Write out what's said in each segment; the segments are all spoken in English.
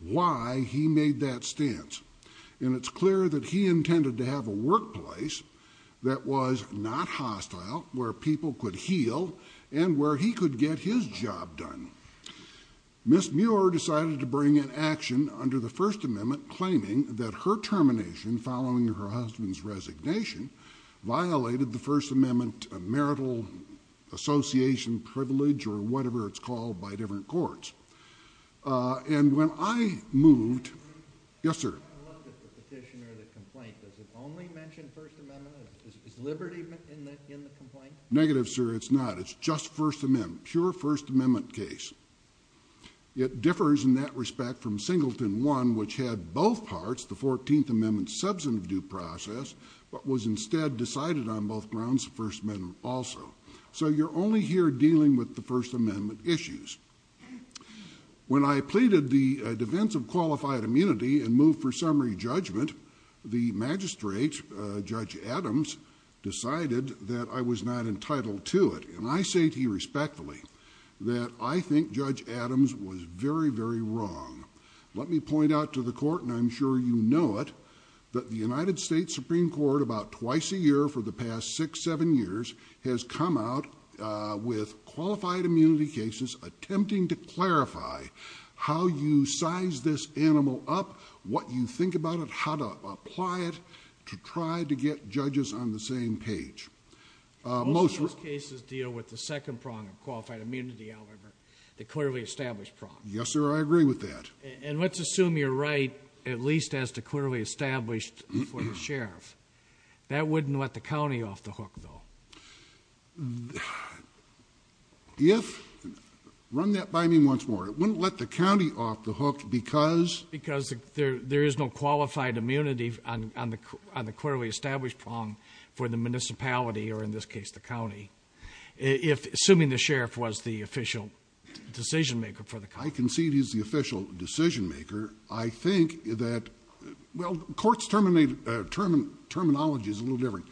why he made that stance and it's clear that he intended to have a workplace that was not hostile where people could heal and where he could get his job done. Ms. Muir decided to bring an action under the First Amendment claiming that her termination following her husband's resignation violated the First Amendment association privilege or whatever it's called by different courts and when I moved yes sir negative sir it's not it's just First Amendment pure First Amendment case it differs in that respect from Singleton one which had both parts the 14th Amendment substantive due process but was instead decided on both grounds First Amendment also so you're only here dealing with the First Amendment issues when I pleaded the defense of qualified immunity and moved for summary judgment the magistrate Judge Adams decided that I was not entitled to it and I say to you respectfully that I think Judge Adams was very very wrong let me point out to the court and I'm sure you know it that the last six seven years has come out with qualified immunity cases attempting to clarify how you size this animal up what you think about it how to apply it to try to get judges on the same page most of those cases deal with the second prong of qualified immunity however the clearly established prong yes sir I agree with that and let's assume you're right at least as to clearly established for the hook though if run that by me once more it wouldn't let the county off the hook because because there there is no qualified immunity on the on the clearly established prong for the municipality or in this case the county if assuming the sheriff was the official decision maker for the car I can see it is the official decision maker I think that well courts terminated terminology is a term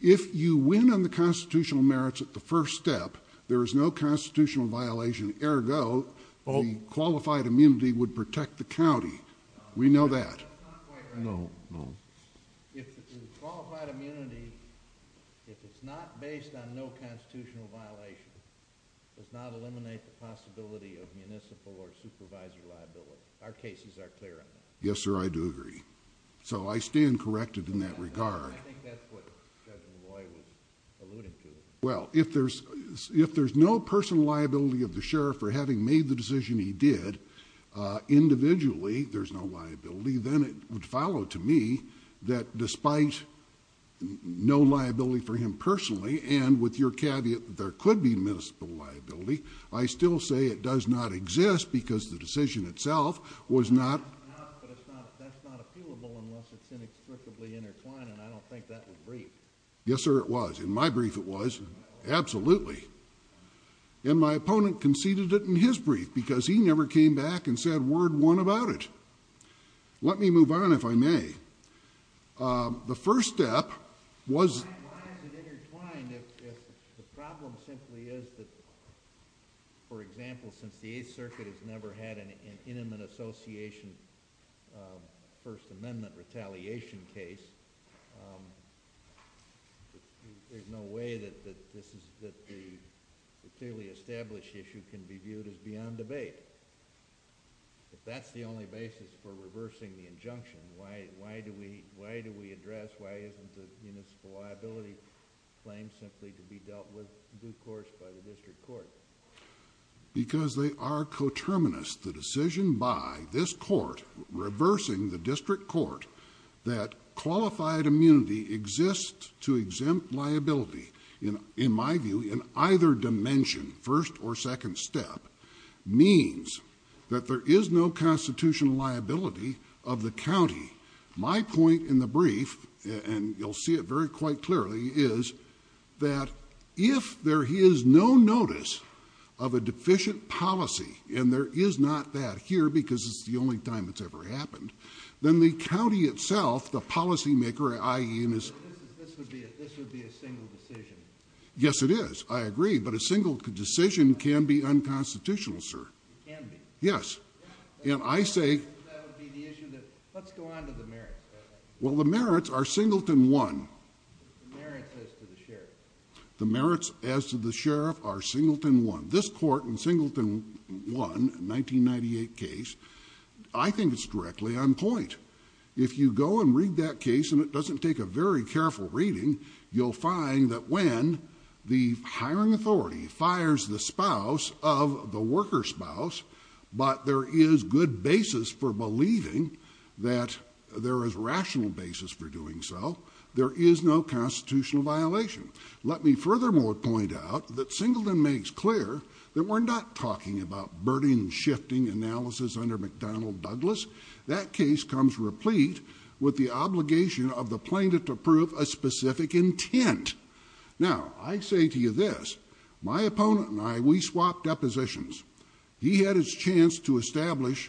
if you win on the constitutional merits at the first step there is no constitutional violation ergo qualified immunity would protect the county we know that yes sir I do agree so I stand corrected in that regard well if there's if there's no personal liability of the sheriff for having made the decision he did individually there's no liability then it would follow to me that despite no liability for him personally and with your caveat there could be municipal liability I still say it does not exist because the decision itself was not yes sir it was in my brief it was absolutely in my opponent conceded it in his brief because he never came back and said word one about it let me move on if I may the first step was why is it intertwined if the problem simply is that for example since the 8th Circuit has never had an intimate association First Amendment retaliation case there's no way that this is that the clearly established issue can be viewed as beyond debate if that's the only basis for reversing the injunction why why do we why do we address why isn't the municipal liability claim simply to be dealt with due course by the district court because they are coterminous the decision by this court reversing the district court that qualified immunity exists to exempt liability in in my view in either dimension first or second step means that there is no constitutional liability of the county my point in the brief and you'll see it very quite clearly is that if there he is no notice of a deficient policy and there is not that here because it's the only time it's ever happened then the county itself the policymaker ie in his yes it is I agree but a single decision can be let's go on to the merit well the merits are singleton one the merits as to the sheriff are singleton one this court in singleton one 1998 case I think it's directly on point if you go and read that case and it doesn't take a very careful reading you'll find that when the hiring authority fires the spouse of the worker spouse but there is good basis for believing that there is rational basis for doing so there is no constitutional violation let me furthermore point out that singleton makes clear that we're not talking about burden shifting analysis under McDonnell Douglas that case comes replete with the obligation of the plaintiff to prove a specific intent now I say to you this my opponent and I we swapped depositions he had his chance to establish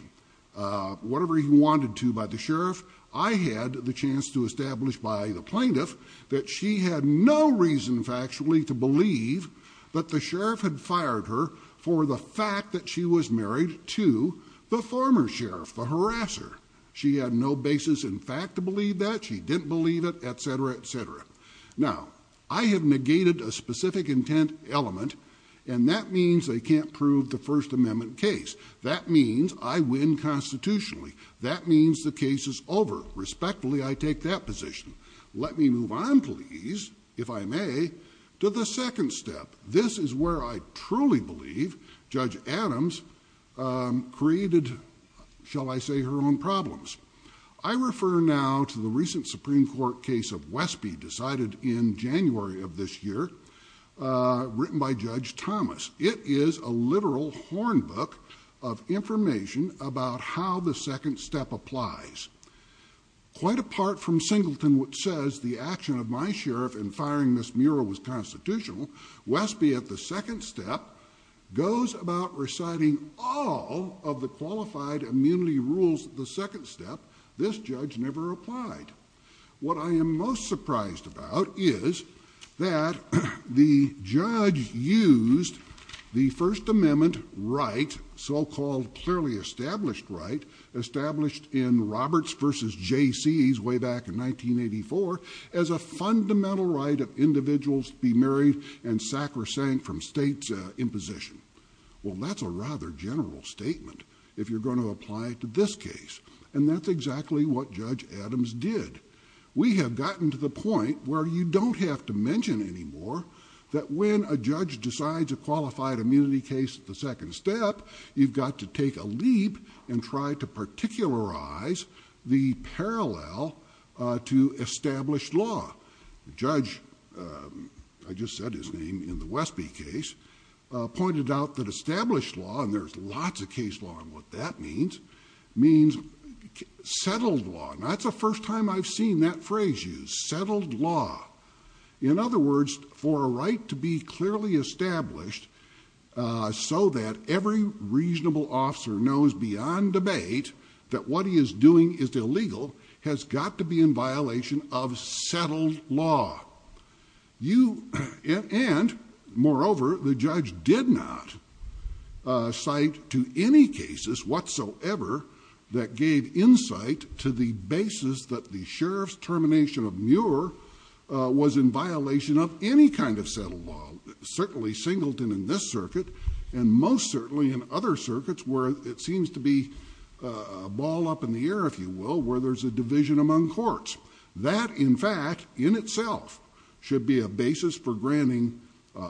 whatever he wanted to by the sheriff I had the chance to establish by the plaintiff that she had no reason factually to believe that the sheriff had fired her for the fact that she was married to the former sheriff the harasser she had no basis in fact to believe that she didn't believe it etc etc now I have negated a element and that means they can't prove the First Amendment case that means I win constitutionally that means the case is over respectfully I take that position let me move on please if I may to the second step this is where I truly believe Judge Adams created shall I say her own problems I refer now to the written by Judge Thomas it is a literal horn book of information about how the second step applies quite apart from singleton which says the action of my sheriff in firing this mural was constitutional Westby at the second step goes about reciting all of the qualified immunity rules the second step this I am most surprised about is that the judge used the First Amendment right so called clearly established right established in Roberts versus JC's way back in 1984 as a fundamental right of individuals to be married and sacrosanct from state's imposition well that's a rather general statement if you're going to apply it to this case and that's exactly what Judge Adams did we have gotten to the point where you don't have to mention anymore that when a judge decides a qualified immunity case at the second step you've got to take a leap and try to particularize the parallel to established law judge I just said his name in the Westby case pointed out that established law and there's lots of case law and what that means means settled law that's the first time I've seen that phrase used settled law in other words for a right to be clearly established so that every reasonable officer knows beyond debate that what he is doing is illegal has got to be in violation of settled law you and more over the judge did not cite to any cases whatsoever that gave insight to the basis that the sheriff's termination of Muir was in violation of any kind of settled law certainly Singleton in this circuit and most certainly in other circuits where it seems to be ball up in the air if you will where there's a division among courts that in fact in itself should be a basis for granting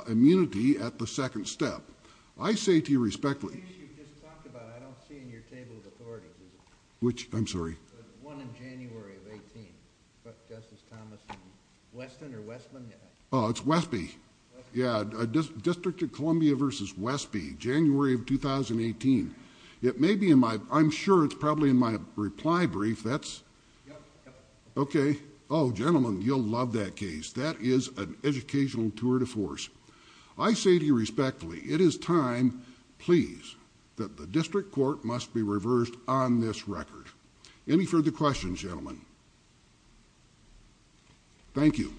immunity at the second step I say to you respectfully which I'm sorry Oh it's Westby yeah just District of Columbia versus Westby January of 2018 it may be in my I'm sure it's probably in my reply brief that's okay Oh gentlemen you'll love that case that is an educational tour de force I say to you respectfully it is time please that the district court must be reversed on this record any further questions gentlemen thank you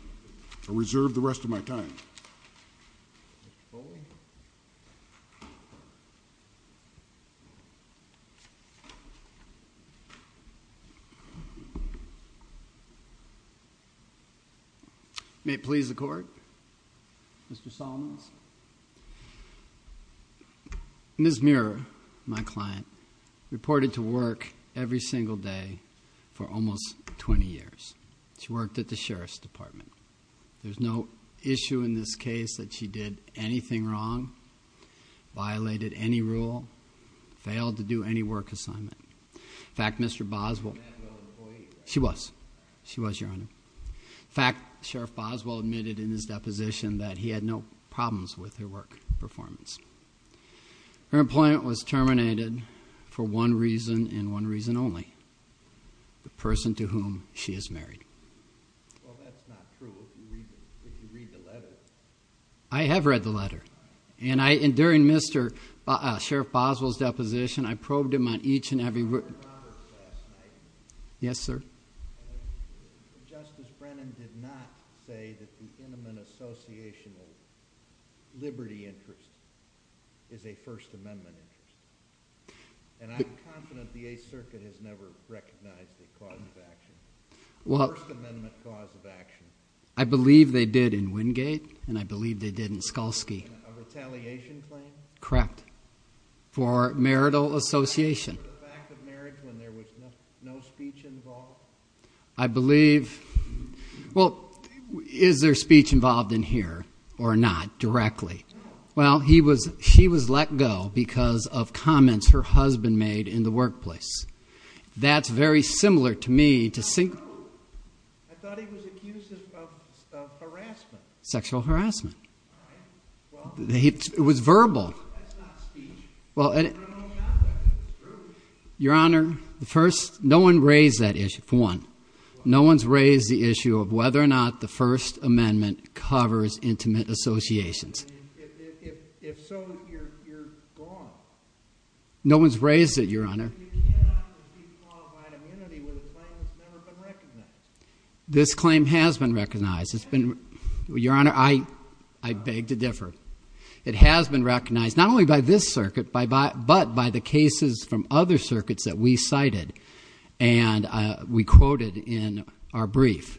I reserve the rest of my time may it please the court mr. Solomon's miss mirror my client reported to work every single day for almost 20 years she worked at the Sheriff's Department there's no issue in this case that she did anything wrong violated any rule failed to do any work assignment fact mr. Boswell she was she was your honor fact sheriff Boswell admitted in his deposition that he had no problems with her work performance her employment was terminated for one reason and one reason only the person to whom she is married I have read the letter and I enduring mr. sheriff Boswell's deposition I probed him on each and every yes sir well I believe they did in Wingate and I believe they didn't Skolski correct for marital association I believe well is there speech involved in here or not directly well he was she was let go because of comments her husband made in the workplace that's very similar to me to single sexual harassment it was verbal well your honor the first no one raised that issue for one no one's raised the issue of whether or not the First Amendment covers intimate associations no one's raised it your honor this claim has been recognized it's been your honor I I beg to differ it has been recognized not only by this circuit by but by the cases from other circuits that we cited and we quoted in our brief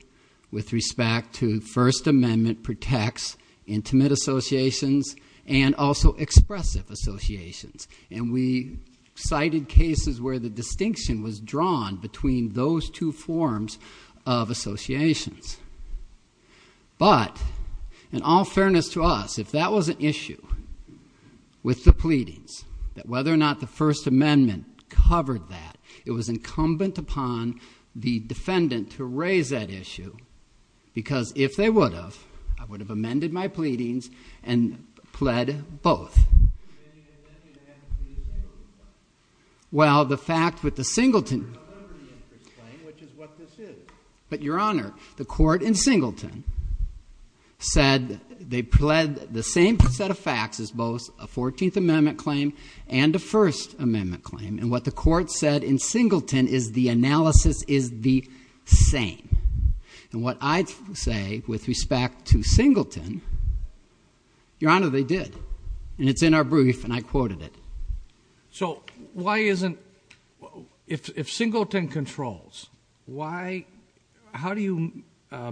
with respect to First Amendment protects intimate associations and also expressive associations and we cited cases where the distinction was but in all fairness to us if that was an issue with the pleadings that whether or not the First Amendment covered that it was incumbent upon the defendant to raise that issue because if they would have I would have amended my pleadings and pled both well the fact with the singleton but your honor the court in singleton said they pled the same set of facts as both a 14th Amendment claim and the First Amendment claim and what the court said in singleton is the analysis is the same and what I'd say with respect to singleton your honor they did and it's in our brief and I quoted it so why isn't if singleton controls why how do you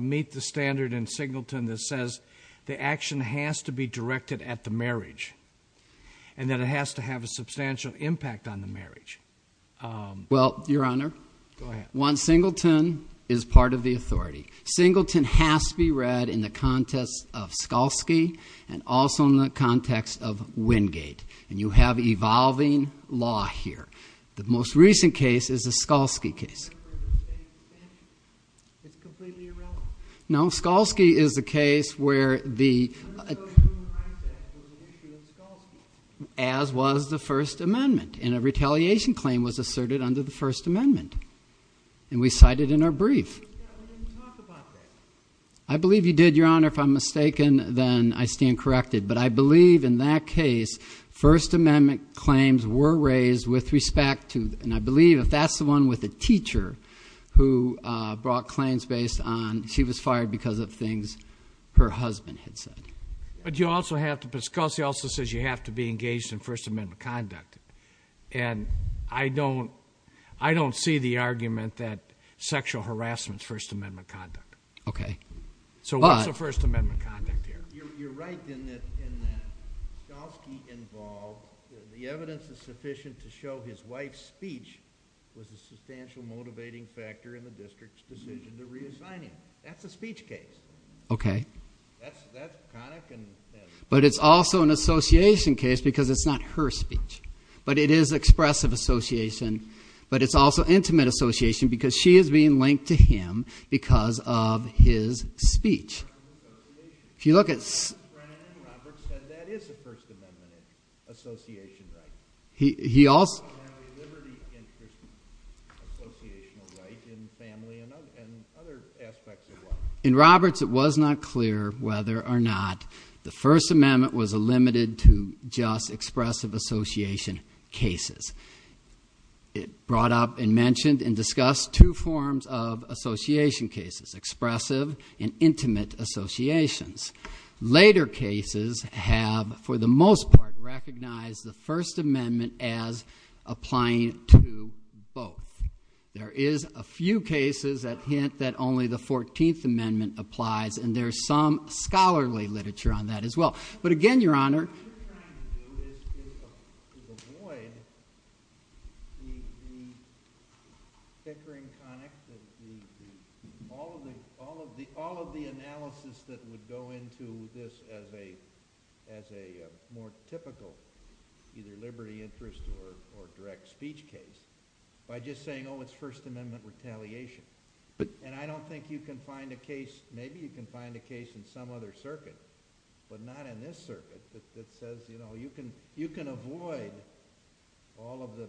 meet the standard in singleton that says the action has to be directed at the marriage and that it has to have a substantial impact on the marriage well your honor one singleton is part of the authority singleton has to be read in the context of Skolski and also in the context of Wingate and you have evolving law here the most recent case is a Skolski case no Skolski is the case where the as was the First Amendment in a retaliation claim was asserted under the First Amendment and we cited in our brief I believe you did your honor if I'm mistaken then I stand corrected but I believe in that case First Amendment claims were raised with respect to and I believe if that's the one with a teacher who brought claims based on she was fired because of things her husband had said but you also have to discuss he also says you have to be engaged in First Amendment conduct and I don't I don't see the argument that sexual harassment First Amendment conduct okay so what's the First Amendment conduct here you're right in that involved the evidence is sufficient to show his wife's substantial motivating factor in the district's decision to reassign him that's a speech case okay but it's also an association case because it's not her speech but it is expressive association but it's also intimate association because she is being linked to him because of his speech if you look at he he also in Roberts it was not clear whether or not the First Amendment was a limited to just expressive association cases it brought up and mentioned and discussed two forms of association cases expressive and intimate associations later cases have for the most part recognized the First Amendment as applying to both there is a few cases that hint that only the 14th Amendment applies and there's some scholarly literature on that as well but again your honor all of the analysis that would go into this as a as a more typical either liberty interest or direct speech case by just saying oh it's First Amendment retaliation but and I don't think you can find a case maybe you can find a circuit but not in this circuit that says you know you can you can avoid all of the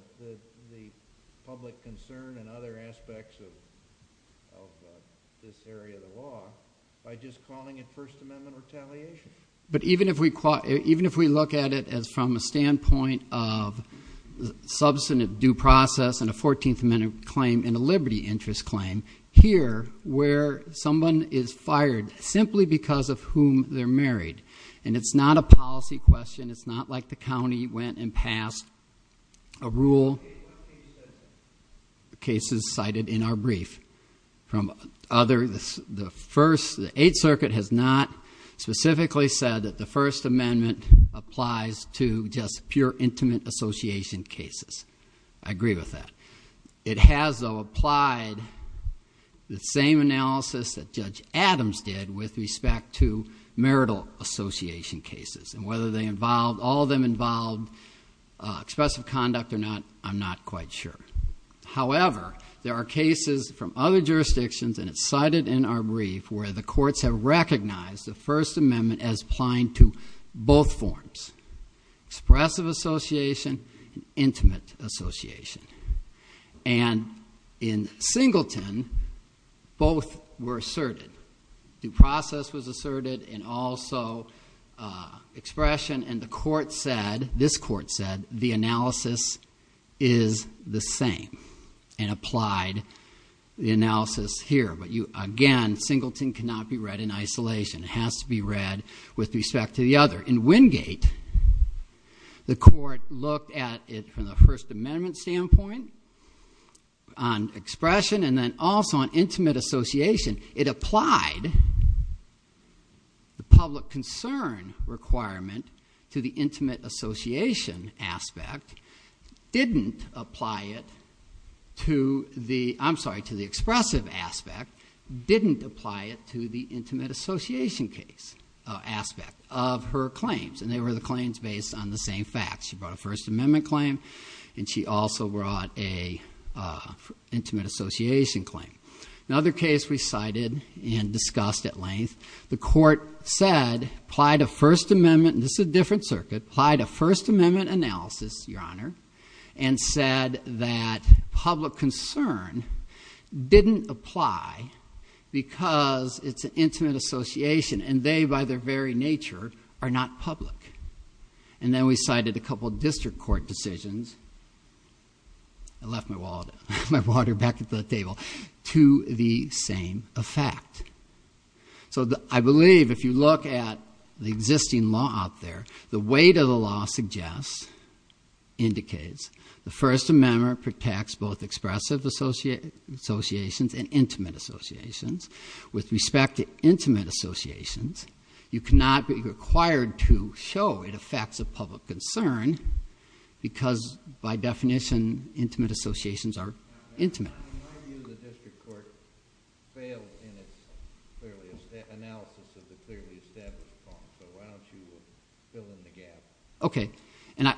public concern and other aspects of this area of the law by just calling it First Amendment retaliation but even if we caught even if we look at it as from a standpoint of substantive due process and a 14th Amendment claim in a they're married and it's not a policy question it's not like the county went and passed a rule cases cited in our brief from other this the first the Eighth Circuit has not specifically said that the First Amendment applies to just pure intimate association cases I agree with that it has applied the same analysis that judge Adams did with respect to marital association cases and whether they involved all of them involved expressive conduct or not I'm not quite sure however there are cases from other jurisdictions and it's cited in our brief where the courts have recognized the First Amendment as applying to both forms expressive association intimate association and in Singleton both were asserted due process was asserted and also expression and the court said this court said the analysis is the same and applied the analysis here but you again Singleton cannot be read in isolation it has to be read with respect to the other in Wingate the court looked at it from the First and then also an intimate association it applied the public concern requirement to the intimate association aspect didn't apply it to the I'm sorry to the expressive aspect didn't apply it to the intimate association case aspect of her claims and they were the claims based on the same facts you brought a First Association claim another case we cited and discussed at length the court said applied a First Amendment this is a different circuit applied a First Amendment analysis your honor and said that public concern didn't apply because it's an intimate association and they by their very nature are not public and then we cited a couple district court decisions I left my wallet my water back at the table to the same effect so I believe if you look at the existing law out there the weight of the law suggests indicates the First Amendment protects both expressive associate associations and intimate associations with respect to intimate associations you cannot be required to show it affects a public concern because by definition intimate associations are intimate okay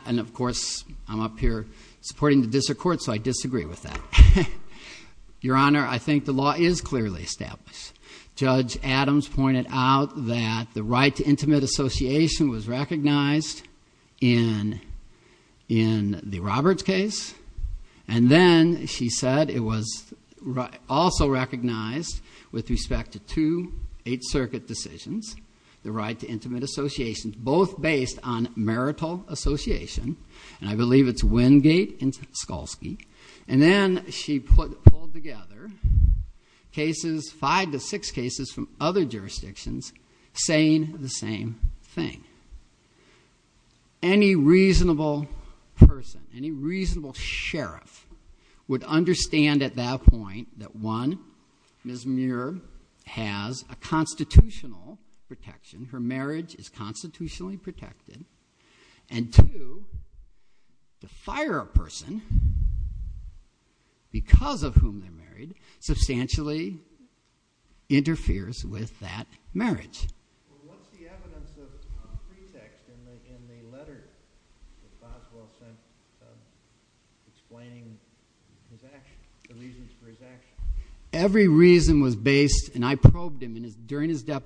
and of course I'm up here supporting the district court so I disagree with that your honor I think the law is clearly established judge Adams pointed out that the right to intimate association was recognized in in the Roberts case and then she said it was right also recognized with respect to to eight circuit decisions the right to intimate association both based on marital association and I believe it's Wingate and Skolski and then she put together cases five to six cases from other jurisdictions saying the same thing any reasonable person any reasonable sheriff would understand at that point that one Ms. Muir has a constitutional protection her marriage is constitutionally and to fire a person because of whom they're married substantially interferes with that marriage every reason was based and I probed him in his during his going to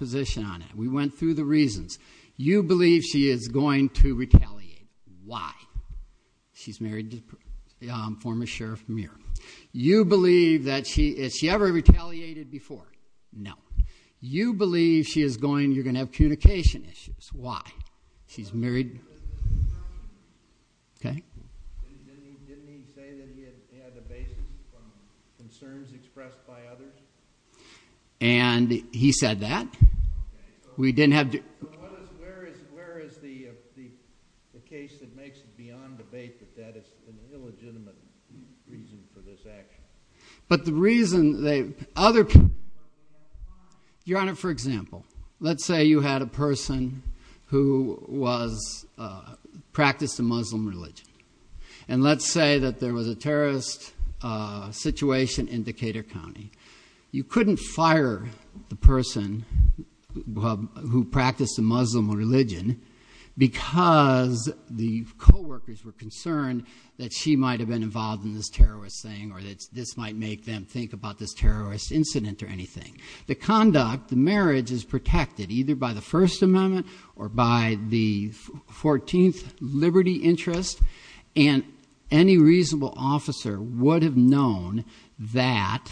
retaliate why she's married to the former sheriff Muir you believe that she is she ever retaliated before no you believe she is going you're gonna have and he said that we didn't have but the reason they other for example let's say you had a person who was practiced a Muslim religion and let's say that there was a terrorist situation in Decatur County you couldn't fire the person who practiced a Muslim religion because the co-workers were concerned that she might have been involved in this terrorist thing or that's this might make them think about this terrorist incident or anything the conduct the marriage is by the First Amendment or by the 14th Liberty interest and any reasonable officer would have known that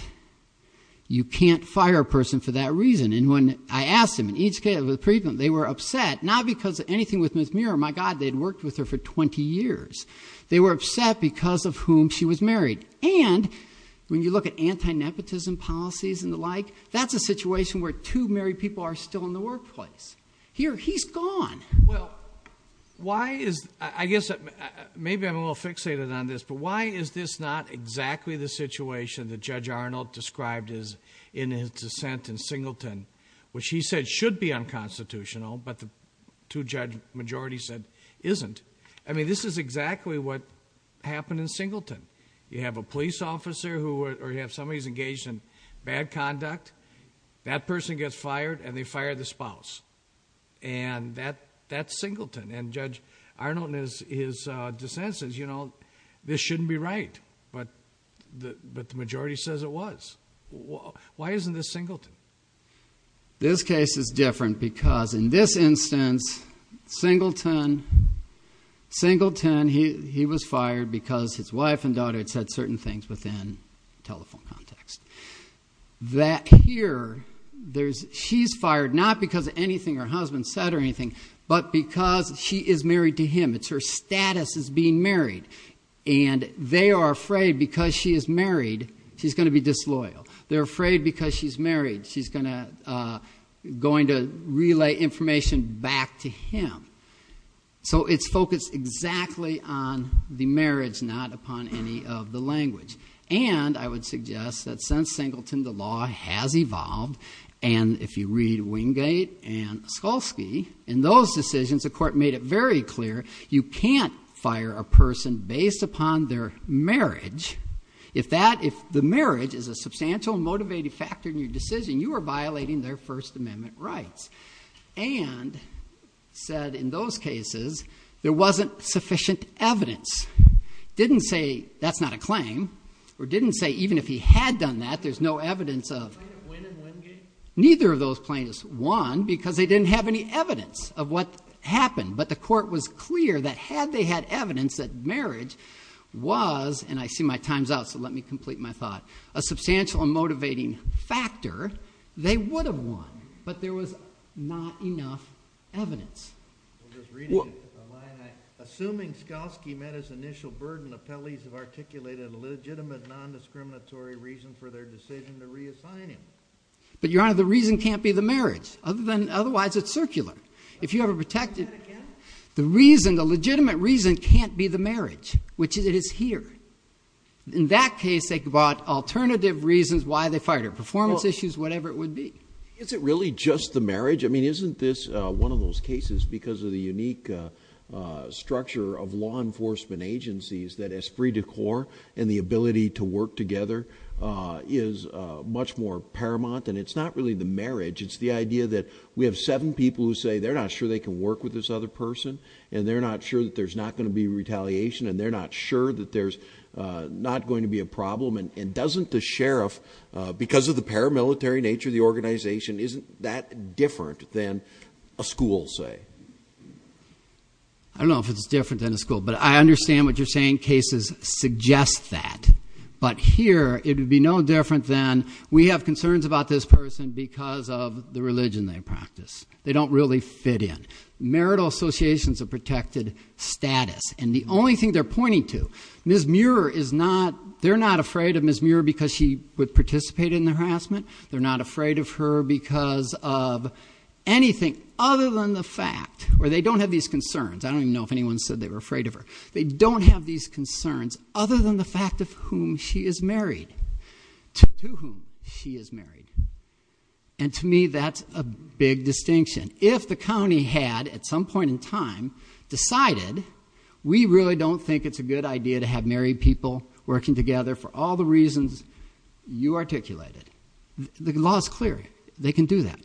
you can't fire a person for that reason and when I asked him in each case with freedom they were upset not because anything with Ms. Muir my god they'd worked with her for 20 years they were upset because of whom she was married and when you look at anti-nepotism policies and the like that's a situation where two married people are still in the workplace here he's gone well why is I guess maybe I'm a little fixated on this but why is this not exactly the situation that Judge Arnold described is in his dissent in Singleton which he said should be unconstitutional but the two judge majority said isn't I mean this is exactly what happened in Singleton you have a police officer who or you have somebody's engaged in bad conduct that person gets fired and they fire the spouse and that that's Singleton and Judge Arnold is his dissent says you know this shouldn't be right but the but the majority says it was well why isn't this Singleton this case is different because in this instance Singleton Singleton he he was fired because his wife and daughter had said certain things within telephone context that here there's she's fired not because of anything her husband said or anything but because she is married to him it's her status is being married and they are afraid because she is married she's going to be disloyal they're afraid because she's married she's gonna going to relay information back to him so it's focused exactly on the marriage not upon any of the language and I would suggest that since Singleton the law has evolved and if you read Wingate and Skolsky in those decisions the court made it very clear you can't fire a person based upon their marriage if that if the marriage is a substantial motivated factor in your decision you are violating their First Amendment rights and said in those cases there wasn't sufficient evidence didn't say that's not a claim or didn't say even if he had done that there's no evidence of neither of those plaintiffs won because they didn't have any evidence of what happened but the court was clear that had they had evidence that marriage was and I see my times out so let me complete my thought a substantial and there was not enough evidence assuming Skolsky met his initial burden of Pelley's have articulated a legitimate non-discriminatory reason for their decision to reassign him but your honor the reason can't be the marriage other than otherwise it's circular if you have a protected the reason the legitimate reason can't be the marriage which is it is here in that case they bought alternative reasons why they fired her performance issues whatever it would be is it really just the marriage I mean isn't this one of those cases because of the unique structure of law enforcement agencies that has free decor and the ability to work together is much more paramount and it's not really the marriage it's the idea that we have seven people who say they're not sure they can work with this other person and they're not sure that there's not going to be retaliation and they're not sure that there's not going to be a problem and doesn't the sheriff because of the paramilitary nature of the organization isn't that different than a school say I don't know if it's different than a school but I understand what you're saying cases suggest that but here it would be no different than we have concerns about this person because of the religion they practice they don't really fit in marital associations of protected status and the only thing they're pointing to Miss Muir is not they're not afraid of Miss Muir because she would participate in the harassment they're not afraid of her because of anything other than the fact where they don't have these concerns I don't even know if anyone said they were afraid of her they don't have these concerns other than the fact of whom she is married she is married and to me that's a big distinction if the county had at some point in time decided we really don't think it's a good idea to have married people working together for all the reasons you articulated the law is clear they can do that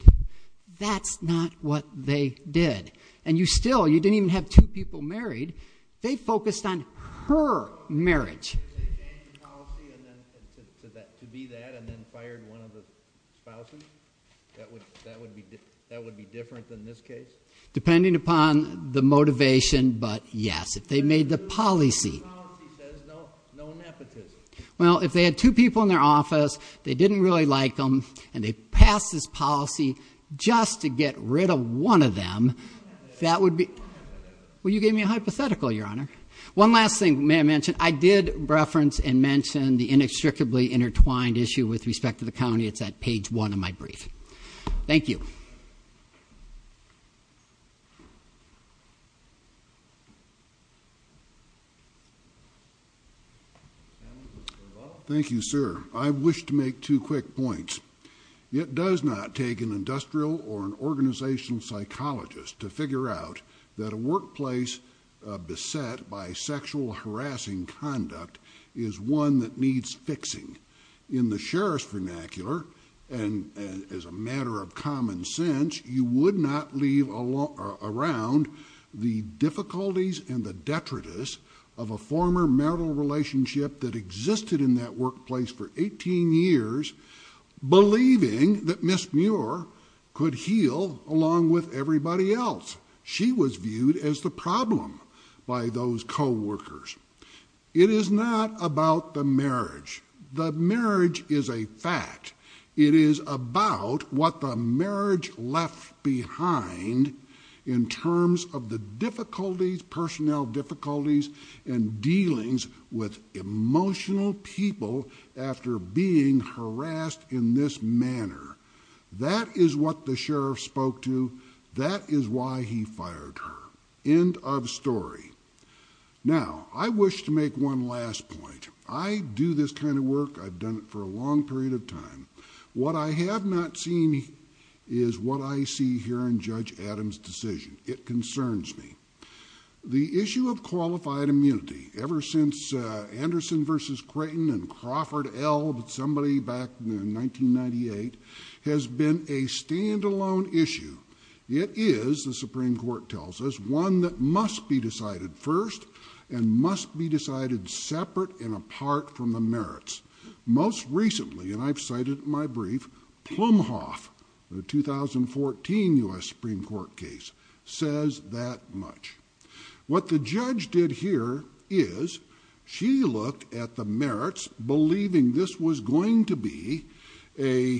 that's not what they did and you still you didn't even have two people married they focused on her marriage depending upon the motivation but yes if they made the policy well if they had two people in their office they didn't really like them and they passed this policy just to get rid of one of them that would be well you gave me a hypothetical your honor one last thing may I mention I did reference and mention the inextricably intertwined issue with respect to the county it's at page one of my brief thank you thank you sir I wish to make two quick points it does not take an industrial or an organizational psychologist to figure out that a workplace beset by sexual harassing conduct is one that needs fixing in the sheriff's vernacular and as a matter of common sense you would not leave a law around the difficulties and the detritus of a former marital relationship that existed in that workplace for 18 years believing that Miss Muir could heal along with everybody else she was viewed as the problem by those co-workers it is not about the marriage the marriage is a fact it is about what the marriage left behind in terms of the difficulties personnel difficulties and dealings with emotional people after being harassed in this manner that is what the sheriff spoke to that is why he fired her end of story now I wish to make one last point I do this kind of work I've done it for a long period of time what I have not seen is what I see here in Judge Adams decision it concerns me the issue of qualified immunity ever since Anderson versus Creighton and Crawford L somebody back in 1998 has been a standalone issue it is the Supreme Court tells us one that must be decided first and must be decided separate and apart from the merits most recently and I've cited my brief Plumhoff the 2014 US Supreme Court case says that much what the judge did here is she looked at the merits believing this was going to be a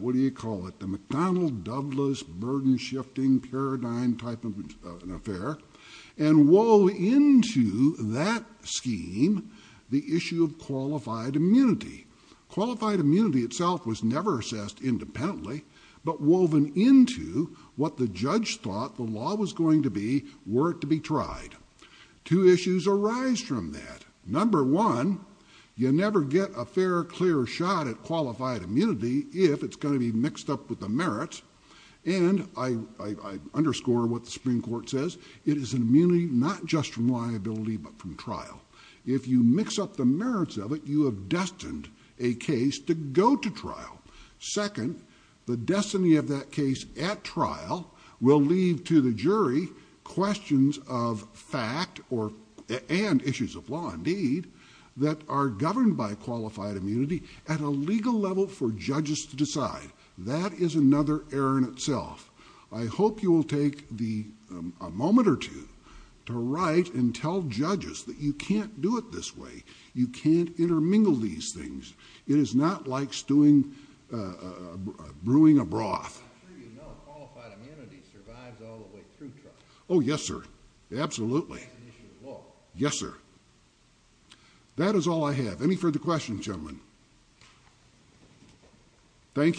what do you call it the McDonnell Douglas burden-shifting paradigm type of an affair and wove into that scheme the issue of qualified immunity qualified immunity itself was never assessed independently but woven into what the judge thought the law was going to be were it to be tried two issues arise from that number one you never get a fair clear shot at qualified immunity if it's going to be mixed up with the merits and I underscore what the Supreme Court says it is an immunity not just from liability but from trial if you mix up the merits of it you have destined a case to go to trial second the destiny of that case at trial will leave to the jury questions of fact or and issues of law indeed that are governed by qualified immunity at a legal level for judges to decide that is another error in itself I hope you will take the moment or two to write and tell judges that you can't do it this way you can't intermingle these things it is not like stewing brewing a broth oh yes sir absolutely yes sir that is all I have any further questions gentlemen thank you